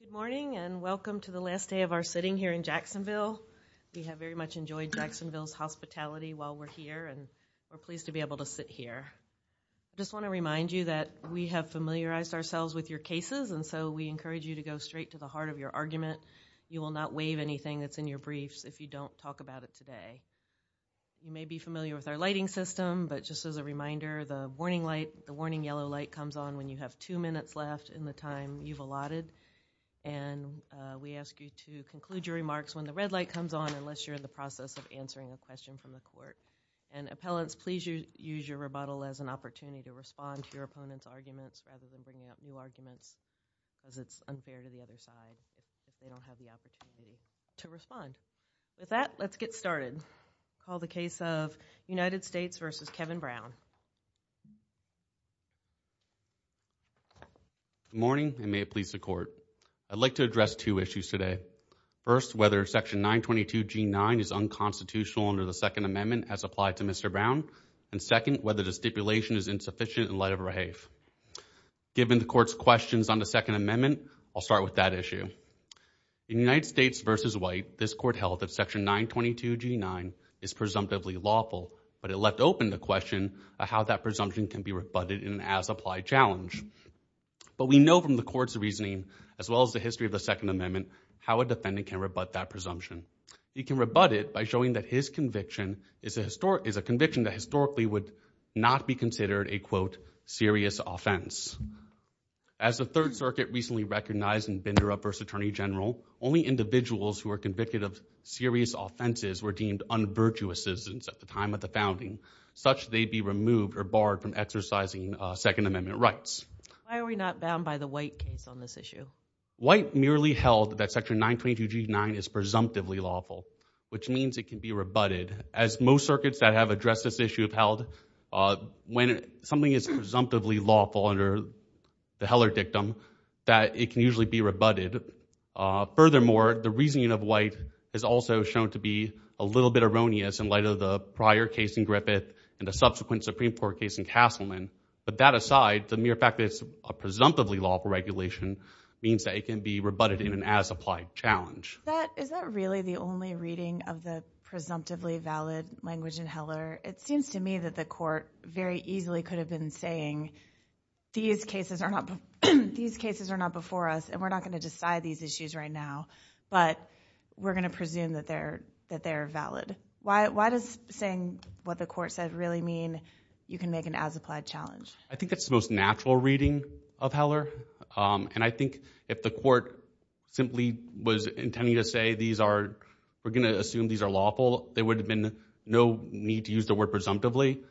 Good morning and welcome to the last day of our sitting here in Jacksonville. We have very much enjoyed Jacksonville's hospitality while we're here and we're pleased to be able to sit here. I just want to remind you that we have familiarized ourselves with your cases and so we encourage you to go straight to the heart of your argument. You will not waive anything that's in your briefs if you don't talk about it today. You may be familiar with our lighting system but just as a reminder the warning light the warning yellow light comes on when you have two minutes left in the time you've allotted and we ask you to conclude your remarks when the red light comes on unless you're in the process of answering a question from the court and appellants please you use your rebuttal as an opportunity to respond to your opponents arguments as it's unfair to the other side they don't have the opportunity to respond with that let's get started call the case of United States versus Kevin Brown morning and may it please the court I'd like to address two issues today first whether section 922 g9 is unconstitutional under the Second Amendment as applied to mr. Brown and second whether the stipulation is insufficient in light of her haif given the court's questions on the Second Amendment I'll start with that issue in United States versus white this court held that section 922 g9 is presumptively lawful but it left open the presumption can be rebutted in as applied challenge but we know from the court's reasoning as well as the history of the Second Amendment how a defendant can rebut that presumption you can rebut it by showing that his conviction is a historic is a conviction that historically would not be considered a quote serious offense as the Third Circuit recently recognized in Binder up first Attorney General only individuals who are convicted of serious offenses were deemed unvirtuous citizens at the time of the founding such they'd be removed or barred from exercising Second Amendment rights why are we not bound by the white case on this issue white merely held that section 922 g9 is presumptively lawful which means it can be rebutted as most circuits that have addressed this issue of held when something is presumptively lawful under the Heller dictum that it can usually be rebutted furthermore the reasoning of white is also shown to be a little bit erroneous in light of the prior case in Griffith and the subsequent Supreme Court case in Castleman but that aside the mere fact it's a presumptively lawful regulation means that it can be rebutted in an as applied challenge that is that really the only reading of the presumptively valid language in Heller it seems to me that the court very easily could have been saying these cases are not these cases are not before us and we're not going to decide these issues right now but we're gonna presume that they're that they're valid why does saying what the court said really mean you can make an as applied challenge I think it's the most natural reading of Heller and I think if the court simply was intending to say these are we're gonna assume these are lawful there would have been no need to use the word presumptively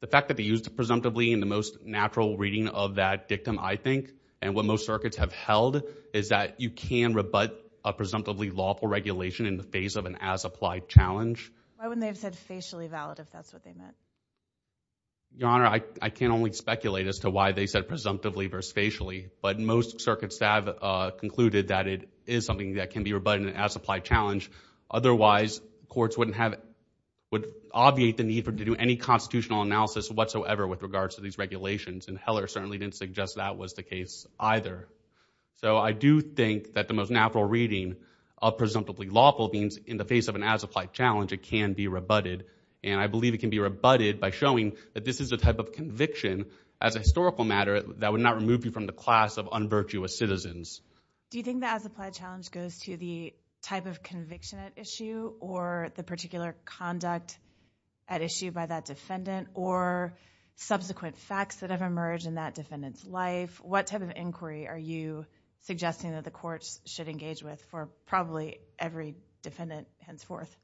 the fact that they used presumptively in the most natural reading of that dictum I think and what most circuits have held is that you can rebut a presumptively lawful regulation in the face of an as applied challenge why wouldn't they have said facially valid if that's what they meant your honor I can only speculate as to why they said presumptively verse facially but most circuits have concluded that it is something that can be rebutted as applied challenge otherwise courts wouldn't have it would obviate the need for to do any constitutional analysis whatsoever with regards to these regulations and Heller certainly didn't suggest that was the either so I do think that the most natural reading of presumptively lawful means in the face of an as applied challenge it can be rebutted and I believe it can be rebutted by showing that this is a type of conviction as a historical matter that would not remove you from the class of unvirtuous citizens do you think that as applied challenge goes to the type of conviction at issue or the particular conduct at issue by that defendant or subsequent facts that have emerged in that defendants life what type of inquiry are you suggesting that the courts should engage with for probably every defendant henceforth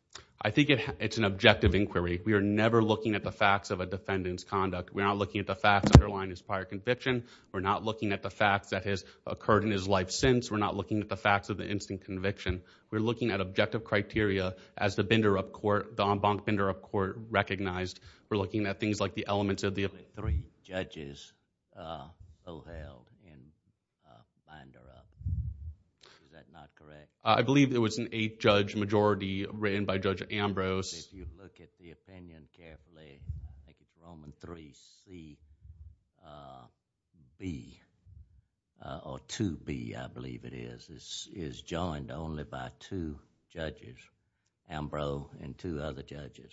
I think it's an objective inquiry we are never looking at the facts of a defendant's conduct we're not looking at the facts underlying his prior conviction we're not looking at the facts that has occurred in his life since we're not looking at the facts of the instant conviction we're looking at objective criteria as the binder of court the en banc vendor of court recognized we're looking at things like the elements of the three judges I believe there was an eighth judge majority written by judge Ambrose be or to be I believe it is this is joined only by two judges Ambrose and two other judges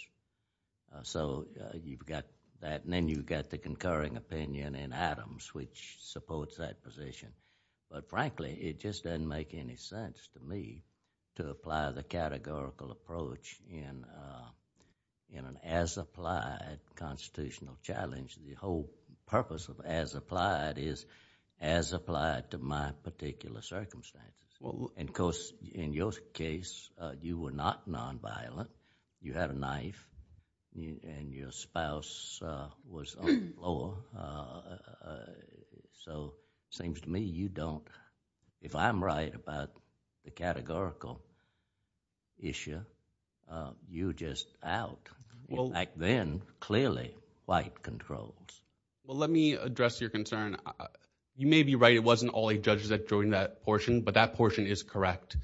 so you've got that and then you've got the concurring opinion in Adams which supports that position but frankly it just doesn't make any sense to me to apply the categorical approach in an as applied constitutional challenge the whole purpose of as applied is as applied to my particular circumstance well of course in your case you were not nonviolent you had a knife and your spouse was oh so seems to me you don't if I'm right about the categorical issue you're just out well back then clearly white controls well let me address your concern you may be right it wasn't all eight judges that portion but that portion is correct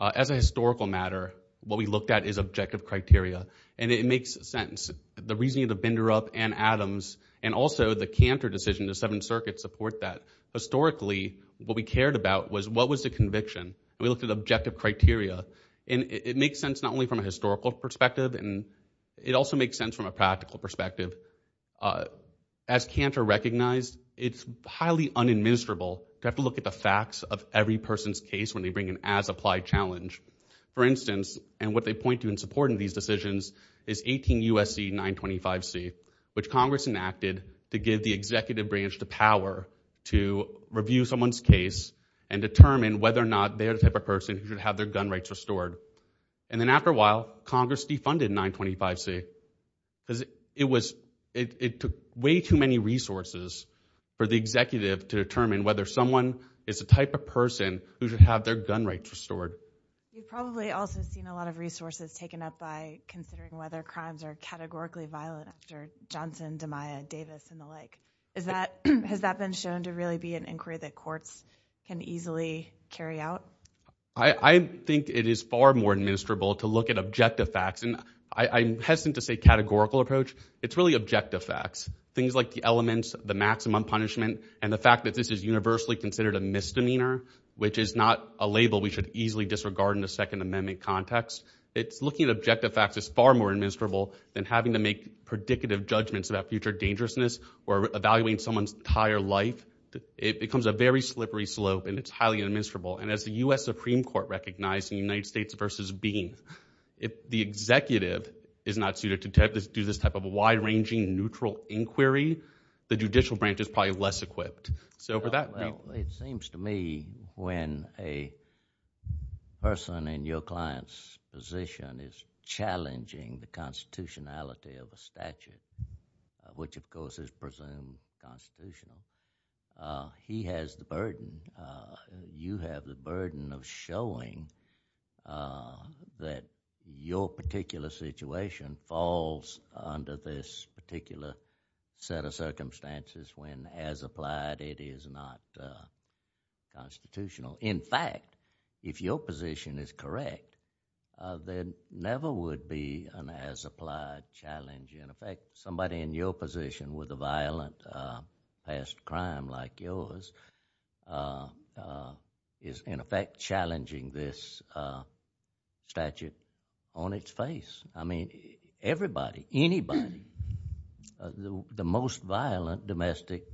as a historical matter what we looked at is objective criteria and it makes sense the reason you the vendor up and Adams and also the canter decision the Seventh Circuit support that historically what we cared about was what was the conviction we looked at objective criteria and it makes sense not only from a historical perspective and it also makes sense from a practical perspective as canter recognized it's highly unadmissible to have to look at the facts of every person's case when they bring in as applied challenge for instance and what they point to in supporting these decisions is 18 USC 925 C which Congress enacted to give the executive branch the power to review someone's case and determine whether or not they're the type of person who have their gun rights restored and then after a while Congress defunded 925 C it was it took way too many resources for the executive to determine whether someone is the type of person who should have their gun rights restored probably also seen a lot of resources taken up by considering whether crimes are categorically violent after Johnson DiMaio Davis and the like is that has that been shown to really be an inquiry that courts can easily carry out I think it is far more administrable to look at objective facts and I'm hesitant to say categorical approach it's really objective facts things like the elements the maximum punishment and the fact that this is universally considered a misdemeanor which is not a label we should easily disregard in the Second Amendment context it's looking at objective facts is far more administrable than having to make predicative judgments about future dangerousness or evaluating someone's entire life it becomes a very slippery slope and it's highly administrable and as the US Supreme Court recognized in the United States versus being if the case is a neutral inquiry the judicial branch is probably less equipped so for that... Well it seems to me when a person in your client's position is challenging the constitutionality of a statute which of course is presumed constitutional he has the burden you have the burden of showing that your particular situation falls under this particular set of circumstances when as applied it is not constitutional in fact if your position is correct then never would be an as applied challenge in effect somebody in your position with a violent past crime like yours is in effect challenging this statute on its face I mean everybody anybody the most violent domestic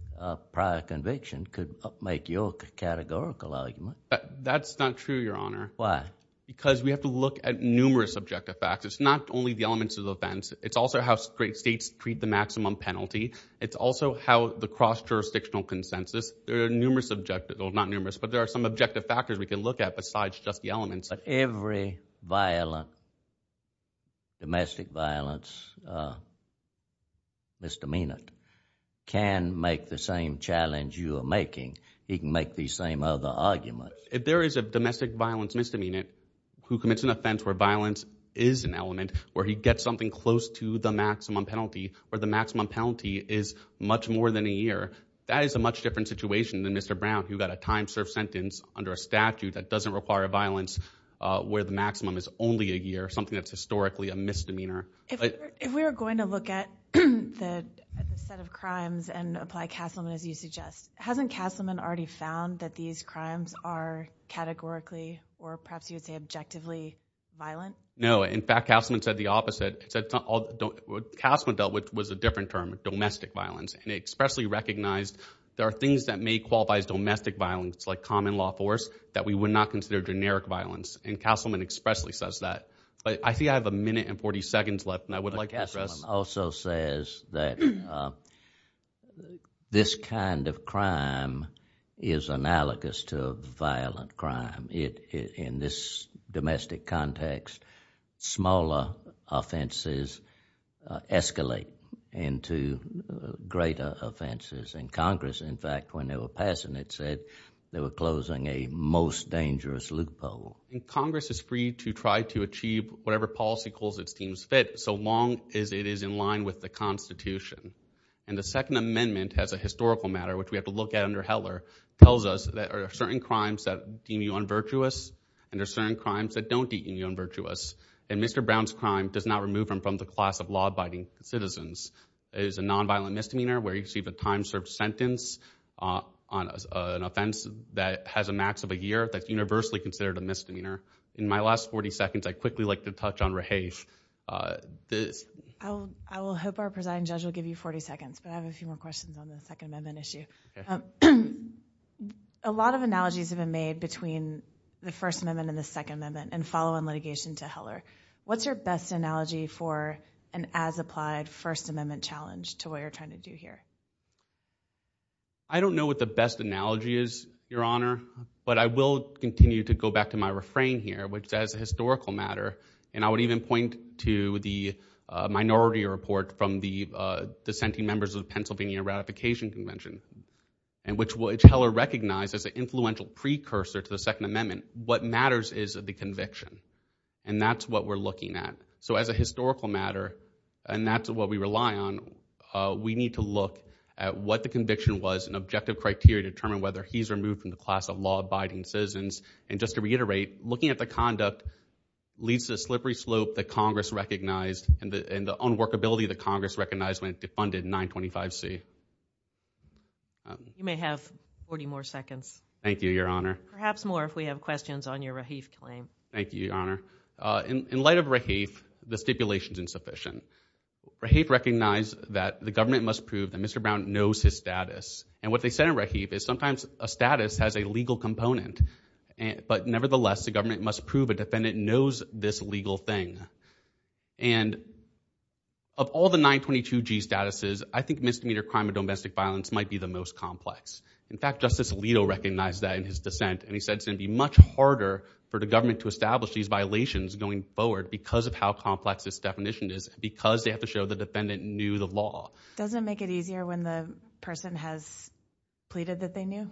prior conviction could make your categorical argument... That's not true your honor... Why? Because we have to look at numerous objective facts it's not only the elements of the offense it's also how great states treat the maximum penalty it's also how the cross-jurisdictional consensus there are numerous objective well not numerous but there are some objective factors we can look at besides just the elements... But every violent domestic violence misdemeanant can make the same challenge you are making he can make these same other arguments... If there is a domestic violence misdemeanant who commits an offense where violence is an element where he gets something close to the maximum penalty where the maximum penalty is much more than a year that is a much different situation than Mr. Brown who got a time served sentence under a statute that doesn't require violence where the maximum is only a year something that's historically a misdemeanor... If we were going to look at the set of crimes and apply Castleman as you suggest hasn't Castleman already found that these crimes are categorically or perhaps you would say objectively violent... Which was a different term domestic violence and expressly recognized there are things that may qualify as domestic violence like common law force that we would not consider generic violence and Castleman expressly says that but I think I have a minute and 40 seconds left and I would like to address... Castleman also says that this kind of crime is analogous to violent crime in this domestic context smaller offenses escalate into greater offenses and Congress in fact when they were passing it said they were closing a most dangerous loophole... Congress is free to try to achieve whatever policy calls its teams fit so long as it is in line with the Constitution and the Second Amendment has a historical matter which we have to look at under Heller tells us that are certain crimes that don't deem you unvirtuous and Mr. Brown's crime does not remove him from the class of law-abiding citizens is a nonviolent misdemeanor where you see the time served sentence on an offense that has a max of a year that universally considered a misdemeanor in my last 40 seconds I quickly like to touch on Raheish... I will hope our presiding judge will give you 40 seconds but I have a few more questions on the Second Amendment issue. A lot of analogies have been made between the First Amendment and the Second Amendment and following litigation to Heller what's your best analogy for an as-applied First Amendment challenge to what you're trying to do here? I don't know what the best analogy is your honor but I will continue to go back to my refrain here which as a historical matter and I would even point to the minority report from the dissenting members of the Pennsylvania Ratification Convention and which Heller recognized as an influential precursor to the Second Amendment what matters is of the conviction and that's what we're looking at so as a historical matter and that's what we rely on we need to look at what the conviction was an objective criteria determine whether he's removed from the class of law-abiding citizens and just to reiterate looking at the conduct leads to a slippery slope that Congress recognized and the unworkability that Congress recognized when it defunded 925 C. You may have 40 more seconds. Thank you your honor. Perhaps more if we have questions on your Rahif claim. Thank you your honor. In light of Rahif, the stipulation is insufficient. Rahif recognized that the government must prove that Mr. Brown knows his status and what they said in Rahif is sometimes a status has a legal component and but nevertheless the government must prove a defendant knows this legal thing and of all the 922 G statuses I think misdemeanor crime or domestic violence might be the most complex. In fact Justice Alito recognized that in his dissent and he said it would be much harder for the government to establish these violations going forward because of how complex this definition is because they have to show the defendant knew the law. Doesn't make it easier when the person has pleaded that they knew?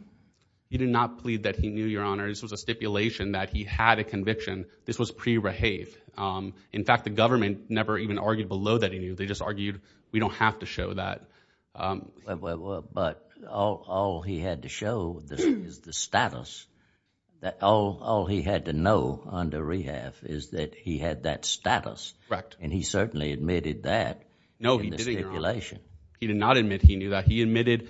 He did not plead that he knew your honor. This was a stipulation that he had a conviction. This was pre-Rahif. In fact the argued below that he knew. They just argued we don't have to show that. But all he had to show is the status that all he had to know under Rahif is that he had that status. Correct. And he certainly admitted that. No he didn't your honor. He did not admit he knew that. He admitted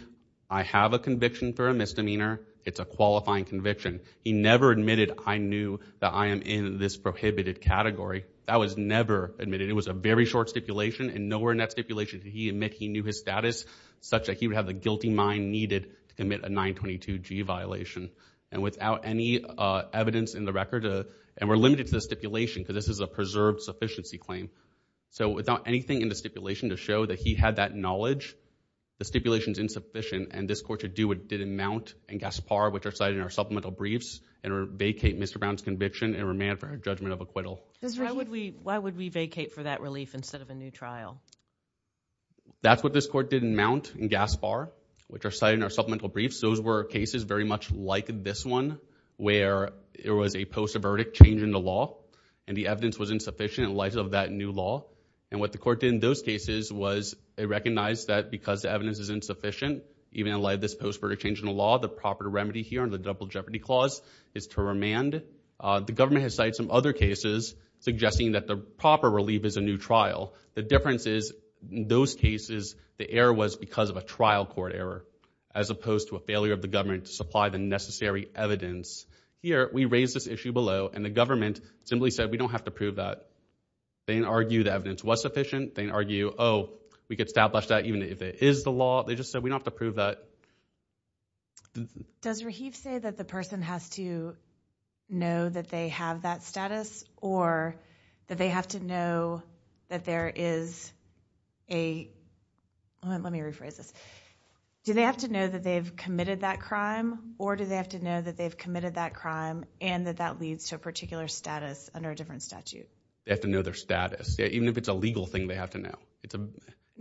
I have a conviction for a misdemeanor. It's a qualifying conviction. He never admitted I knew that I am in this prohibited category. That was never admitted. It was a very short stipulation and nowhere in that stipulation did he admit he knew his status such that he would have the guilty mind needed to commit a 922g violation. And without any evidence in the record and we're limited to the stipulation because this is a preserved sufficiency claim. So without anything in the stipulation to show that he had that knowledge, the stipulation is insufficient and this court should do what did in Mount and Gaspar which are cited in our supplemental briefs and judgment of acquittal. Why would we vacate for that relief instead of a new trial? That's what this court did in Mount and Gaspar which are cited in our supplemental briefs. Those were cases very much like this one where it was a post-verdict change in the law and the evidence was insufficient in light of that new law. And what the court did in those cases was they recognized that because the evidence is insufficient even in light of this post-verdict change in the law the proper remedy here on the double jeopardy clause is to other cases suggesting that the proper relief is a new trial. The difference is in those cases the error was because of a trial court error as opposed to a failure of the government to supply the necessary evidence. Here we raise this issue below and the government simply said we don't have to prove that. They argue the evidence was sufficient. They argue oh we could establish that even if it is the law. They just said we don't have to prove that. Does Rahib say that the status or that they have to know that there is a let me rephrase this do they have to know that they've committed that crime or do they have to know that they've committed that crime and that that leads to a particular status under a different statute? They have to know their status even if it's a legal thing they have to know.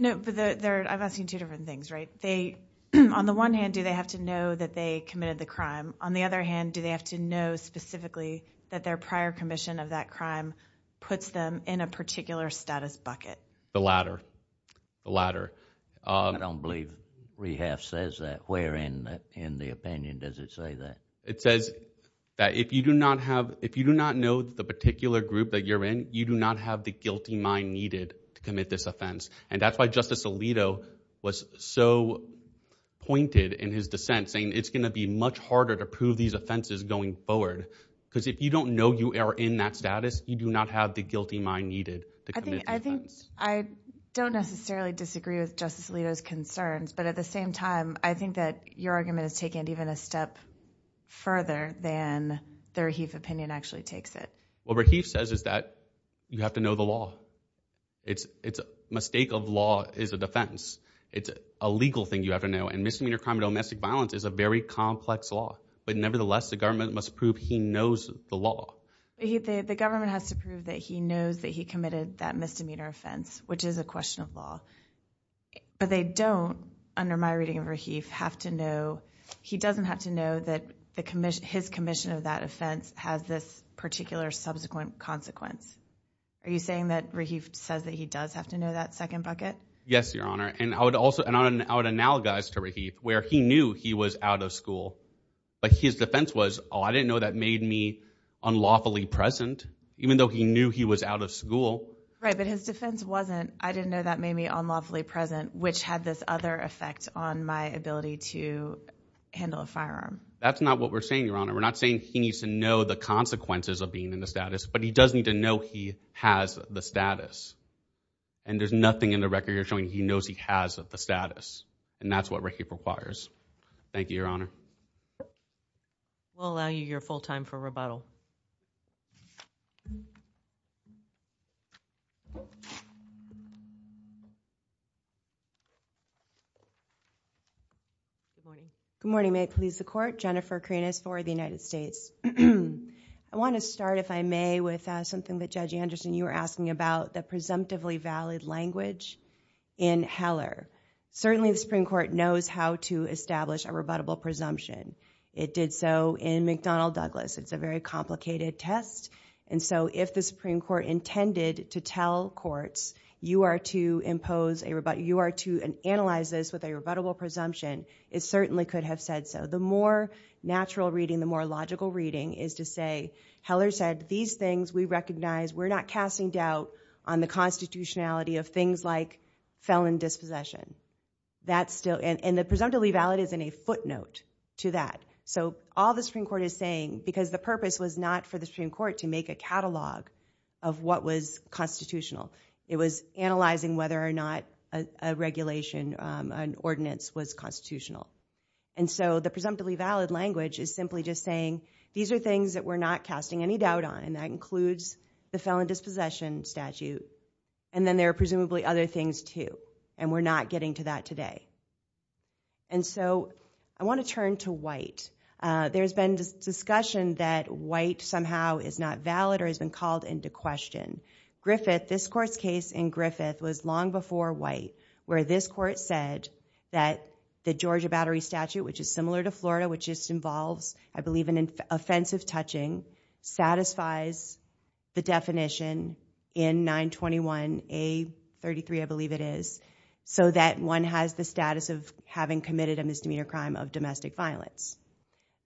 I'm asking two different things right they on the one hand do they have to know that they committed the crime on the other hand do they have to know that their prior commission of that crime puts them in a particular status bucket? The latter. The latter. I don't believe we have says that where in in the opinion does it say that? It says that if you do not have if you do not know the particular group that you're in you do not have the guilty mind needed to commit this offense and that's why Justice Alito was so pointed in his dissent saying it's gonna be much harder to prove these you are in that status you do not have the guilty mind needed. I think I don't necessarily disagree with Justice Alito's concerns but at the same time I think that your argument is taken even a step further than the Rahif opinion actually takes it. What Rahif says is that you have to know the law it's it's a mistake of law is a defense it's a legal thing you have to know and misdemeanor crime domestic violence is a very complex law but nevertheless the knows the law. The government has to prove that he knows that he committed that misdemeanor offense which is a question of law but they don't under my reading of Rahif have to know he doesn't have to know that the commission his commission of that offense has this particular subsequent consequence. Are you saying that Rahif says that he does have to know that second bucket? Yes your honor and I would also and I would analogize to Rahif where he knew he was out of school but his defense was oh I didn't know that made me unlawfully present even though he knew he was out of school. Right but his defense wasn't I didn't know that made me unlawfully present which had this other effect on my ability to handle a firearm. That's not what we're saying your honor we're not saying he needs to know the consequences of being in the status but he does need to know he has the status and there's nothing in the record you're showing he knows he has the status and that's what Rahif requires. Thank you your honor. We'll allow you your full time for rebuttal. Good morning may it please the court Jennifer Karinas for the United States. I want to start if I may with something that Judge Anderson you were asking about the presumptively valid language in Heller. Certainly the Supreme Court knows how to establish a rebuttable presumption. It did so in McDonnell Douglas. It's a very complicated test and so if the Supreme Court intended to tell courts you are to impose a rebuttal you are to analyze this with a rebuttable presumption it certainly could have said so. The more natural reading the more logical reading is to say Heller said these things we recognize we're not casting doubt on the constitutionality of things like felon dispossession. That's the presumptively valid is in a footnote to that so all the Supreme Court is saying because the purpose was not for the Supreme Court to make a catalog of what was constitutional. It was analyzing whether or not a regulation an ordinance was constitutional and so the presumptively valid language is simply just saying these are things that we're not casting any doubt on and that includes the felon dispossession statute and then there are presumably other things too and we're not getting to that today and so I want to turn to white. There's been discussion that white somehow is not valid or has been called into question. Griffith this court's case in Griffith was long before white where this court said that the Georgia battery statute which is similar to Florida which just involves I believe an offensive touching satisfies the is so that one has the status of having committed a misdemeanor crime of domestic violence.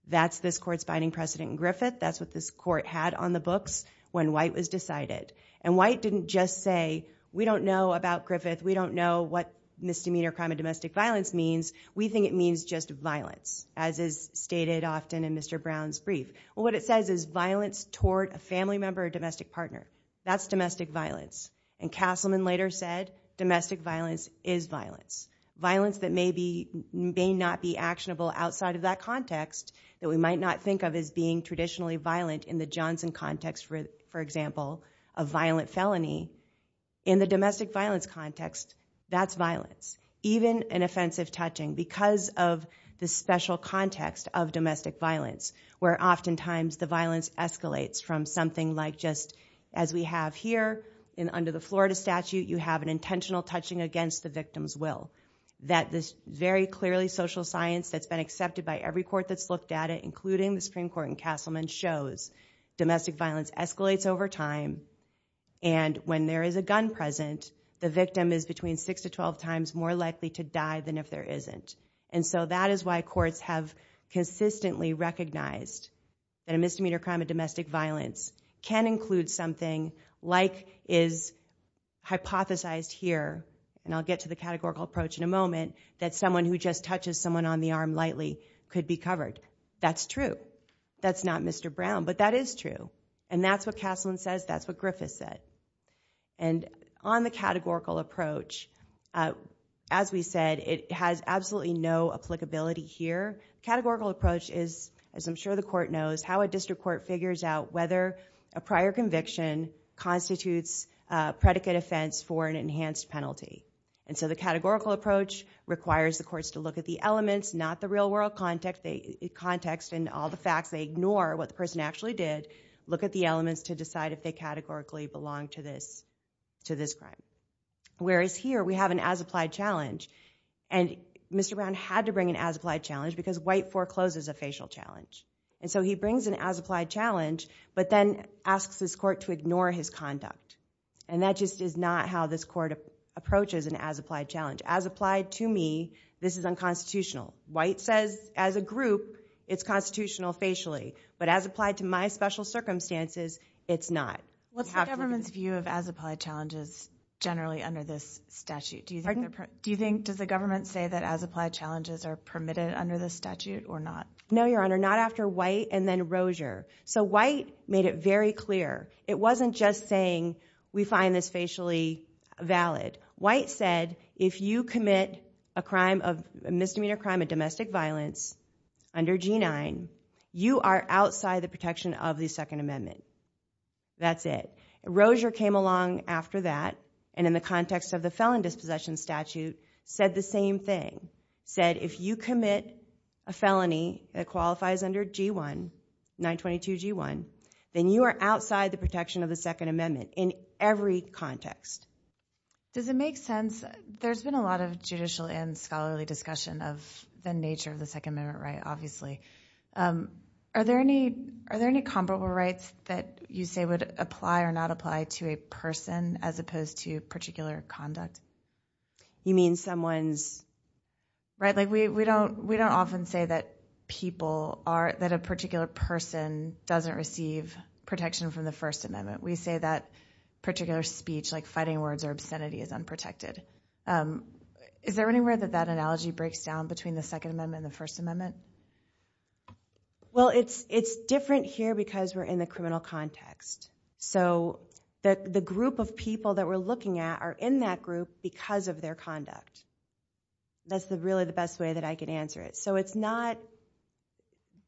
That's this court's binding precedent in Griffith. That's what this court had on the books when white was decided and white didn't just say we don't know about Griffith. We don't know what misdemeanor crime of domestic violence means. We think it means just violence as is stated often in Mr. Brown's brief. What it says is violence toward a family member or domestic partner. That's domestic violence and Castleman later said domestic violence is violence. Violence that may be may not be actionable outside of that context that we might not think of as being traditionally violent in the Johnson context for example a violent felony. In the domestic violence context that's violence. Even an offensive touching because of the special context of domestic violence where oftentimes the as we have here in under the Florida statute you have an intentional touching against the victim's will. That this very clearly social science that's been accepted by every court that's looked at it including the Supreme Court and Castleman shows domestic violence escalates over time and when there is a gun present the victim is between six to twelve times more likely to die than if there isn't. And so that is why courts have consistently recognized that a something like is hypothesized here and I'll get to the categorical approach in a moment that someone who just touches someone on the arm lightly could be covered. That's true. That's not Mr. Brown but that is true and that's what Castleman says that's what Griffith said. And on the categorical approach as we said it has absolutely no applicability here. Categorical approach is as I'm sure the court knows how a district court figures out whether a prior conviction constitutes predicate offense for an enhanced penalty. And so the categorical approach requires the courts to look at the elements not the real-world context they context and all the facts they ignore what the person actually did look at the elements to decide if they categorically belong to this to this crime. Whereas here we have an as-applied challenge and Mr. Brown had to bring an as-applied challenge because white forecloses a facial challenge. And so he brings an as-applied challenge but then asks this court to ignore his conduct. And that just is not how this court approaches an as-applied challenge. As applied to me this is unconstitutional. White says as a group it's constitutional facially but as applied to my special circumstances it's not. What's the government's view of as-applied challenges generally under this statute? Do you think does the government say that as-applied challenges are permitted under the statute or not? No your honor not after White and then Rozier. So White made it very clear it wasn't just saying we find this facially valid. White said if you commit a crime of misdemeanor crime of domestic violence under G9 you are outside the protection of the Second Amendment. That's it. Rozier came along after that and in the context of the felon dispossession statute said the same thing. Said if you commit a felony that qualifies under G1 922 G1 then you are outside the protection of the Second Amendment in every context. Does it make sense there's been a lot of judicial and scholarly discussion of the nature of the Second Amendment right obviously. Are there any are there any comparable rights that you say would apply or not apply to a person as opposed to particular conduct? You mean someone's right like we we don't we don't often say that people are that a particular person doesn't receive protection from the First Amendment. We say that particular speech like fighting words or obscenity is unprotected. Is there any way that that analogy breaks down between the Second Amendment and the First Amendment? Well it's it's different here because we're in the criminal context. So that the group of people that we're looking at are in that group because of their conduct. That's the really the best way that I can answer it. So it's not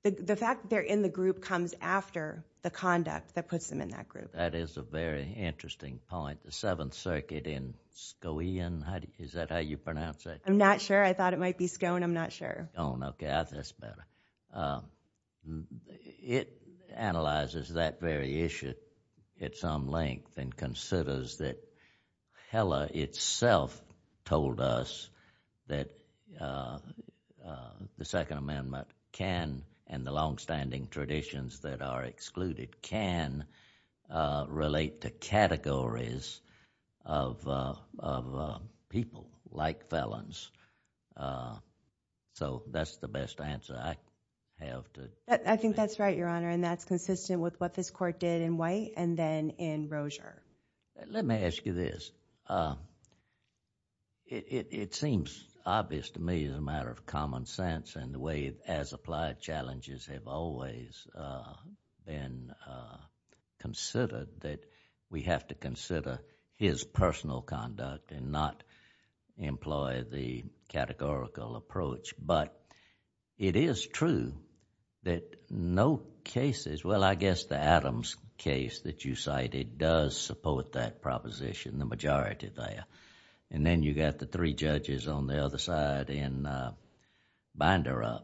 the fact they're in the group comes after the conduct that puts them in that group. That is a very interesting point. The Seventh Circuit in Skowhean, is that how you pronounce it? I'm not sure I thought it might be Skowhean. I'm not sure. Okay that's better. It analyzes that very issue at some length and considers that Heller itself told us that the Second Amendment can and the long-standing traditions that are excluded can relate to categories of people like felons. So that's the best answer I have. I think that's right, Your Honor, and that's consistent with what this court did in White and then in Rozier. Let me ask you this. It seems obvious to me as a matter of common sense and the way as applied challenges have always been considered that we have to consider his personal conduct and not employ the categorical approach. But it is true that no cases... well I guess the Adams case that you cited does support that proposition, the majority there. Then you got the three judges on the other side in Binderup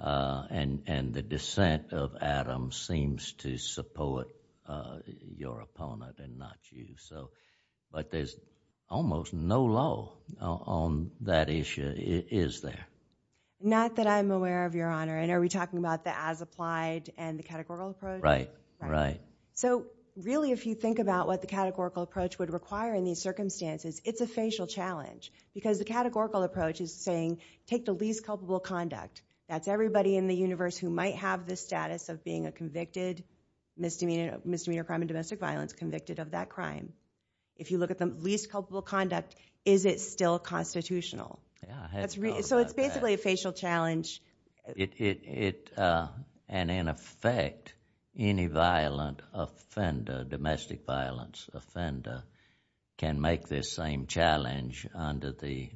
and the dissent of Adams seems to deploy your opponent and not you. But there's almost no law on that issue, is there? Not that I'm aware of, Your Honor, and are we talking about the as applied and the categorical approach? Right. So really if you think about what the categorical approach would require in these circumstances, it's a facial challenge because the categorical approach is saying take the least culpable conduct. That's everybody in the universe who might have the status of being a convicted misdemeanor crime and domestic violence convicted of that crime. If you look at the least culpable conduct, is it still constitutional? So it's basically a facial challenge. And in effect, any violent offender, domestic violence offender, can make this same challenge under the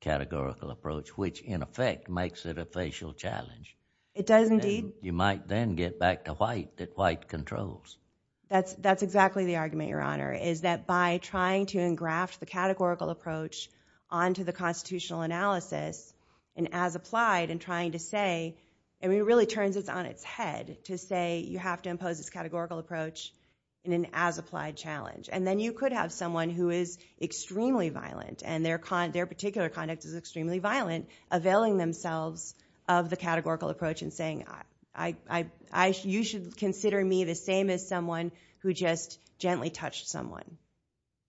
categorical approach, which in effect makes it a facial challenge. It does indeed. You might then get back to white that white controls. That's exactly the argument, Your Honor, is that by trying to engraft the categorical approach onto the constitutional analysis and as applied and trying to say... it really turns it on its head to say you have to impose this categorical approach in an as applied challenge. And then you could have someone who is extremely violent and their particular conduct is extremely violent availing themselves of the categorical approach and saying you should consider me the same as someone who just gently touched someone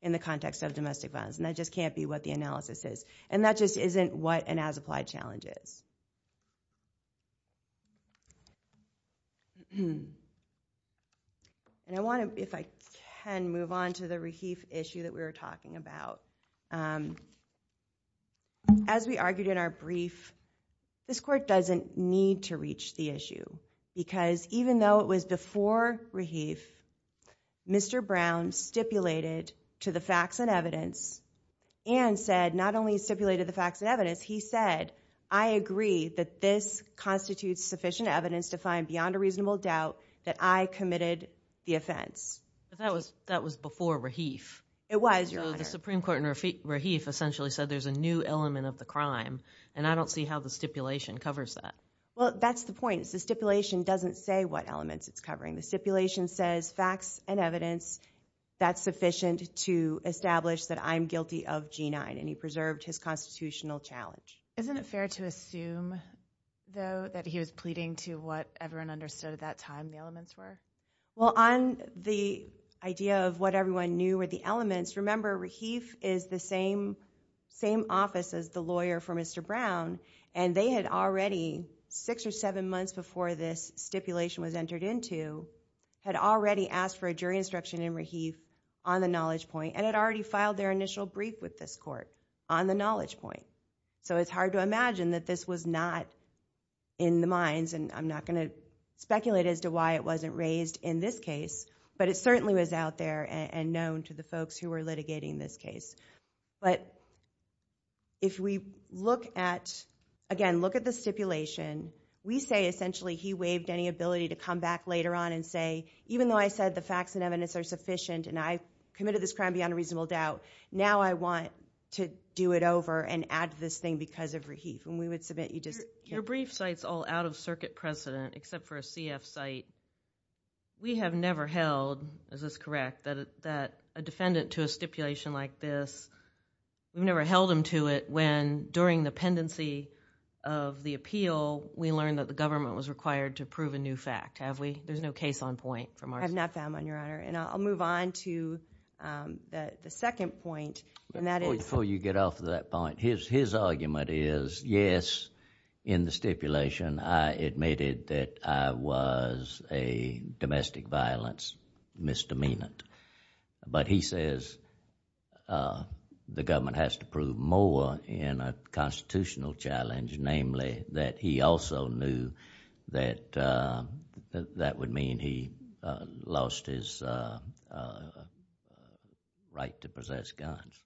in the context of domestic violence. And that just can't be what the analysis is. And that just isn't what an as applied challenge is. And I want to, if I can, move on to the Rahif issue that we were talking about. As we argued in our brief, this court doesn't need to reach the issue because even though it was before Rahif, Mr. Brown stipulated to the facts and evidence and said not only stipulated the facts and evidence, he said, I agree that this constitutes sufficient evidence to find beyond a reasonable doubt that I committed the offense. It was, Your Honor. So the Supreme Court in Rahif essentially said there's a new element of the crime and I don't see how the stipulation covers that. Well, that's the point. The stipulation doesn't say what elements it's covering. The stipulation says facts and evidence that's sufficient to establish that I'm guilty of G9 and he preserved his constitutional challenge. Isn't it fair to assume, though, that he was pleading to what everyone understood at that time the elements were? Well, on the idea of what everyone knew were the elements, remember, Rahif is the same office as the lawyer for Mr. Brown and they had already, six or seven months before this stipulation was entered into, had already asked for a jury instruction in Rahif on the knowledge point and had already filed their initial brief with this court on the knowledge point. So it's hard to imagine that this was not in the minds, and I'm not going to be amazed in this case, but it certainly was out there and known to the folks who were litigating this case. But if we look at, again, look at the stipulation, we say essentially he waived any ability to come back later on and say, even though I said the facts and evidence are sufficient and I committed this crime beyond a reasonable doubt, now I want to do it over and add to this thing because of Rahif. And we would submit you just... We have never held, is this correct, that a defendant to a stipulation like this, we've never held them to it when during the pendency of the appeal, we learned that the government was required to prove a new fact, have we? There's no case on point from our... I've not found one, Your Honor. And I'll move on to the second point, and that is... Before you get off of that point, his argument is, yes, in the stipulation, I admitted that I was a domestic violence misdemeanant. But he says the government has to prove more in a constitutional challenge, namely, that he also knew that that would mean he lost his right to possess guns.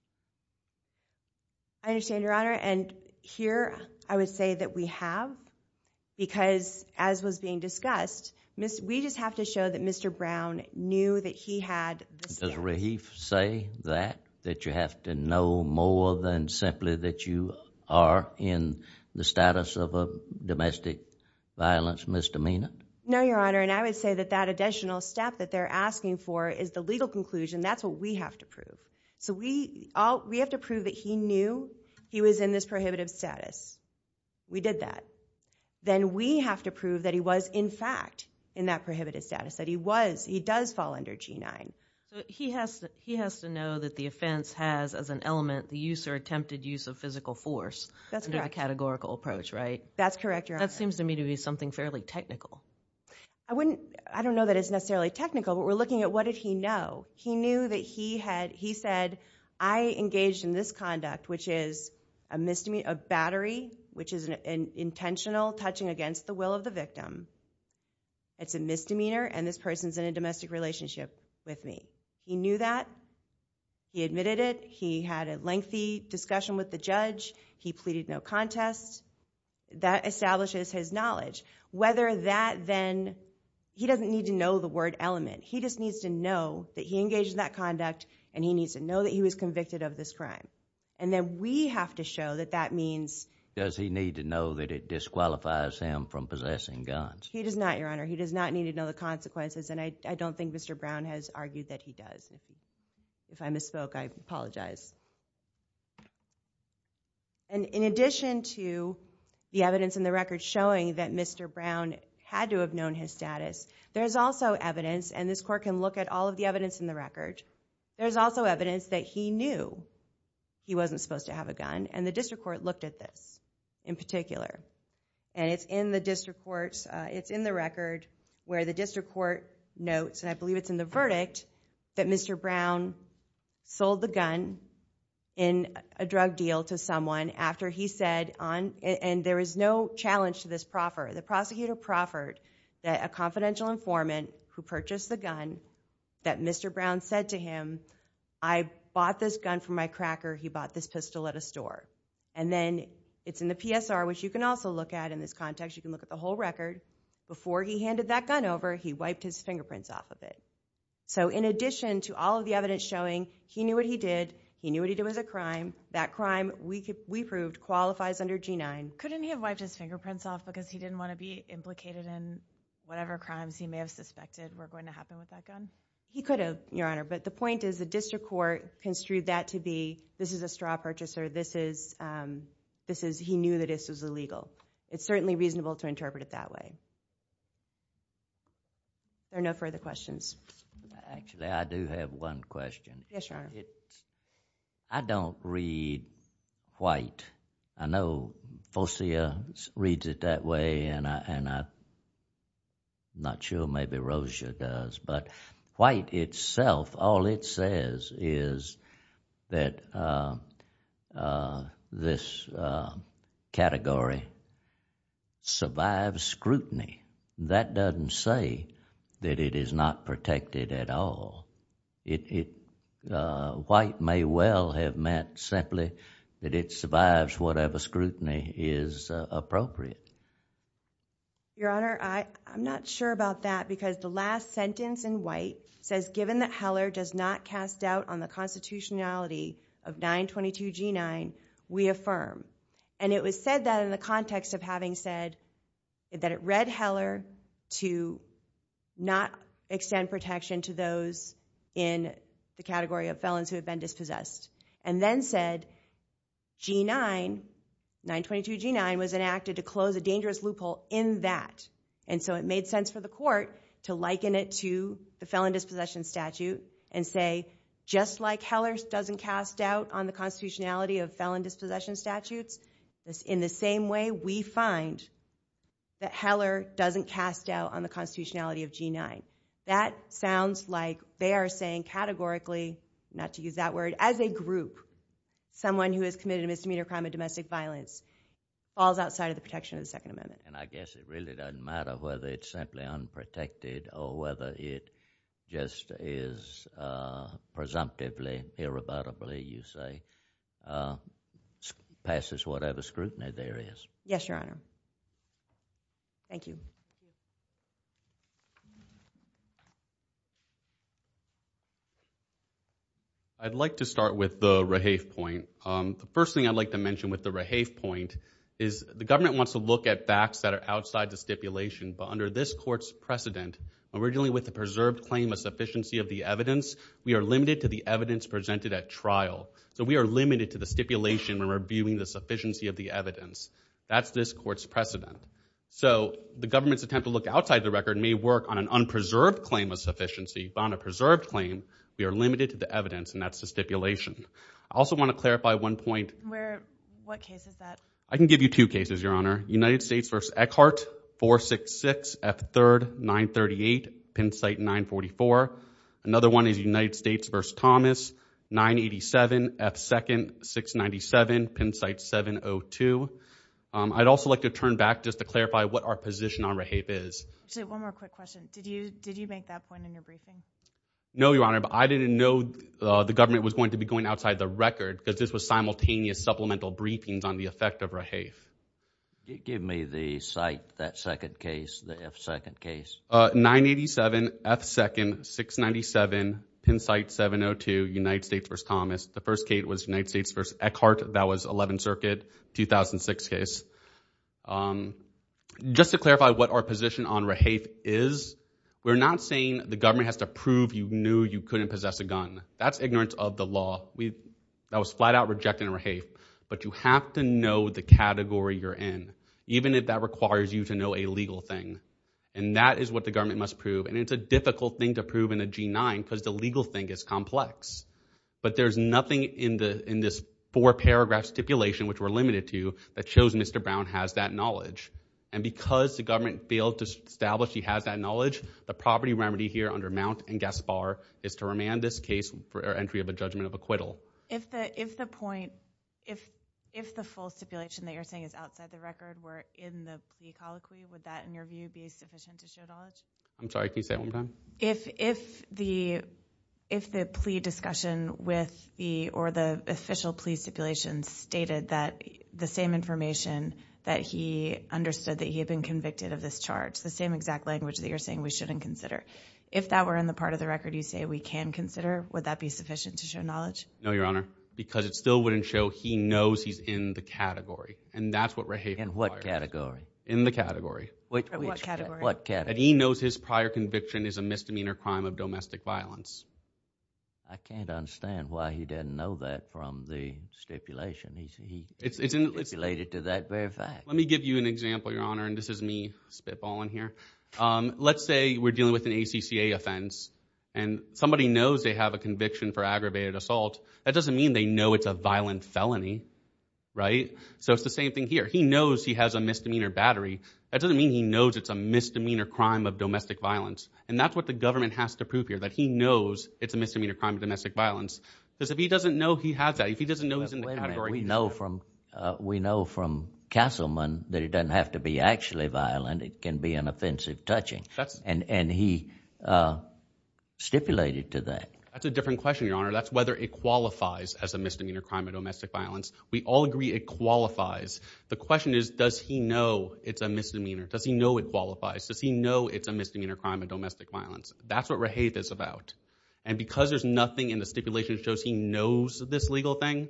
I understand, Your Honor. And here, I would say that we have, because as was being discussed, we just have to show that Mr. Brown knew that he had... Does Rahif say that, that you have to know more than simply that you are in the status of a domestic violence misdemeanant? No, Your Honor, and I would say that that additional step that they're asking for is the legal conclusion. That's what we have to prove. We have to prove that he knew he was in this prohibitive status. We did that. Then, we have to prove that he was, in fact, in that prohibitive status, that he does fall under G-9. He has to know that the offense has, as an element, the use or attempted use of physical force... That's correct.... under the categorical approach, right? That's correct, Your Honor. That seems to me to be something fairly technical. I don't know that it's necessarily technical, but we're looking at what did he know. He knew that he said, I engaged in this conduct, which is a battery, which is an intentional touching against the will of the victim. It's a misdemeanor, and this person's in a domestic relationship with me. He knew that. He admitted it. He had a lengthy discussion with the judge. He pleaded no contest. That establishes his knowledge. Whether that then... he doesn't need to know the word element. He just needs to know that he engaged in that conduct and he needs to know that he was convicted of this crime. Then, we have to show that that means... Does he need to know that it disqualifies him from possessing guns? He does not, Your Honor. He does not need to know the consequences, and I don't think Mr. Brown has argued that he does. If I misspoke, I apologize. In addition to the evidence in the record showing that Mr. Brown had to have known his gun, and this court can look at all of the evidence in the record, there's also evidence that he knew he wasn't supposed to have a gun, and the district court looked at this in particular. It's in the record where the district court notes, and I believe it's in the verdict, that Mr. Brown sold the gun in a drug deal to someone after he said... There is no challenge to this proffer. The prosecutor proffered that a confidential informant who purchased the gun, that Mr. Brown said to him, I bought this gun from my cracker. He bought this pistol at a store, and then it's in the PSR, which you can also look at in this context. You can look at the whole record. Before he handed that gun over, he wiped his fingerprints off of it. In addition to all of the evidence showing he knew what he did, he knew what he did was a crime, that crime, we proved, qualifies under G-9... He didn't want to be implicated in whatever crimes he may have suspected were going to happen with that gun? He could have, Your Honor, but the point is the district court construed that to be, this is a straw purchaser, this is... he knew that this was illegal. It's certainly reasonable to interpret it that way. Are there no further questions? Actually, I do have one question. I don't read white. I know Fosia reads it that way, and I'm not sure maybe Rosia does, but white itself, all it says is that this category survives scrutiny. That doesn't say that it is not protected at all. White may well have meant simply that it survives whatever scrutiny is appropriate. Your Honor, I'm not sure about that because the last sentence in white says, given that Heller does not cast doubt on the constitutionality of 922 G-9, we affirm. It was said that in the context of having said that it read Heller to not extend protection to those in the category of felons who have been dispossessed and then said G-9, 922 G-9 was enacted to close a dangerous loophole in that. It made sense for the court to liken it to the felon dispossession statute and say, just like Heller doesn't cast doubt on the constitutionality of felon dispossession statutes, in the same way we find that Heller doesn't cast doubt on the constitutionality of G-9. That sounds like they are saying categorically, not to use that word, as a group, someone who has committed a misdemeanor crime of domestic violence falls outside of the protection of the Second Amendment. And I guess it really doesn't matter whether it's simply unprotected or whether it just is presumptively, irrevotably, you say, passes whatever scrutiny there is. Yes, Your Honor. Thank you. I'd like to start with the Rahafe point. The first thing I'd like to mention with the Rahafe point is the government wants to look at facts that are outside the stipulation, but under this court's precedent, originally with the preserved claim of sufficiency of the evidence, we are limited to the evidence presented at trial. So we are limited to the stipulation when we're viewing the sufficiency of the evidence. That's this court's precedent. So the government's attempt to look outside the record may work on an unpreserved claim of sufficiency, but on a preserved claim, we are limited to the evidence, and that's the stipulation. I also want to clarify one point. Where, what case is that? I can give you two cases, Your Honor. United States v. Eckhart, 466 F. 3rd, 938, Penn site 944. Another one is United States v. Thomas, 987 F. 2nd, 697, Penn site 702. I'd also like to turn back just to clarify what our position on Rahafe is. Just one more quick question. Did you, did you make that point in your briefing? No, Your Honor, but I didn't know the government was going to be going outside the record because this was simultaneous supplemental briefings on the effect of Rahafe. Give me the site, that second case, the F. 2nd case. 987 F. 2nd, 697, Penn site 702, United States v. Thomas. The first case was United States v. Eckhart. That was 11th Circuit, 2006 case. Just to clarify what our position on Rahafe is, we're not saying the government has to prove you knew you couldn't possess a gun. That's ignorance of the law. We, that was flat out rejecting Rahafe, but you have to know the category you're in, even if that requires you to know a legal thing, and that is what the government must prove, and it's a difficult thing to prove in a G9 because the legal thing is complex, but there's nothing in this four-paragraph stipulation, which we're limited to, that shows Mr. Brown has that knowledge, and because the government failed to establish he has that knowledge, the property remedy here under Mount and Gaspar is to remand this case for entry of a judgment of acquittal. If the point, if the full stipulation that you're saying is outside the record were in the plea colloquy, would that, in your view, be sufficient to show knowledge? I'm sorry, can you say that one more time? If, if the, if the plea discussion with the, or the official plea stipulation stated that the same information that he understood that he had been convicted of this charge, the same exact language that you're saying we shouldn't consider, if that were in the part of the record you say we can consider, would that be sufficient to show knowledge? No, Your Honor, because it still wouldn't show he knows he's in the category, and that's what Rahafe requires. In the category. What category? What category? That he knows his prior conviction is a misdemeanor crime of domestic violence. I can't understand why he didn't know that from the stipulation, he stipulated to that very fact. Let me give you an example, Your Honor, and this is me spitballing here. Let's say we're dealing with an ACCA offense, and somebody knows they have a conviction for aggravated assault, that doesn't mean they know it's a violent felony, right? So it's the same thing here. He knows he has a misdemeanor battery. That doesn't mean he knows it's a misdemeanor crime of domestic violence. And that's what the government has to prove here, that he knows it's a misdemeanor crime of domestic violence. Because if he doesn't know he has that, if he doesn't know he's in the category. We know from Castleman that it doesn't have to be actually violent, it can be an offensive touching, and he stipulated to that. That's a different question, Your Honor. That's whether it qualifies as a misdemeanor crime of domestic violence. We all agree it qualifies. The question is, does he know it's a misdemeanor? Does he know it qualifies? Does he know it's a misdemeanor crime of domestic violence? That's what Rahaith is about. And because there's nothing in the stipulation that shows he knows this legal thing,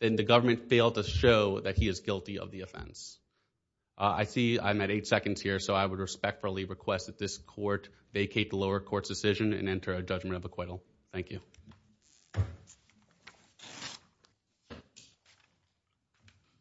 then the government failed to show that he is guilty of the offense. I see I'm at eight seconds here, so I would respectfully request that this court vacate the lower court's decision and enter a judgment of acquittal. Thank you.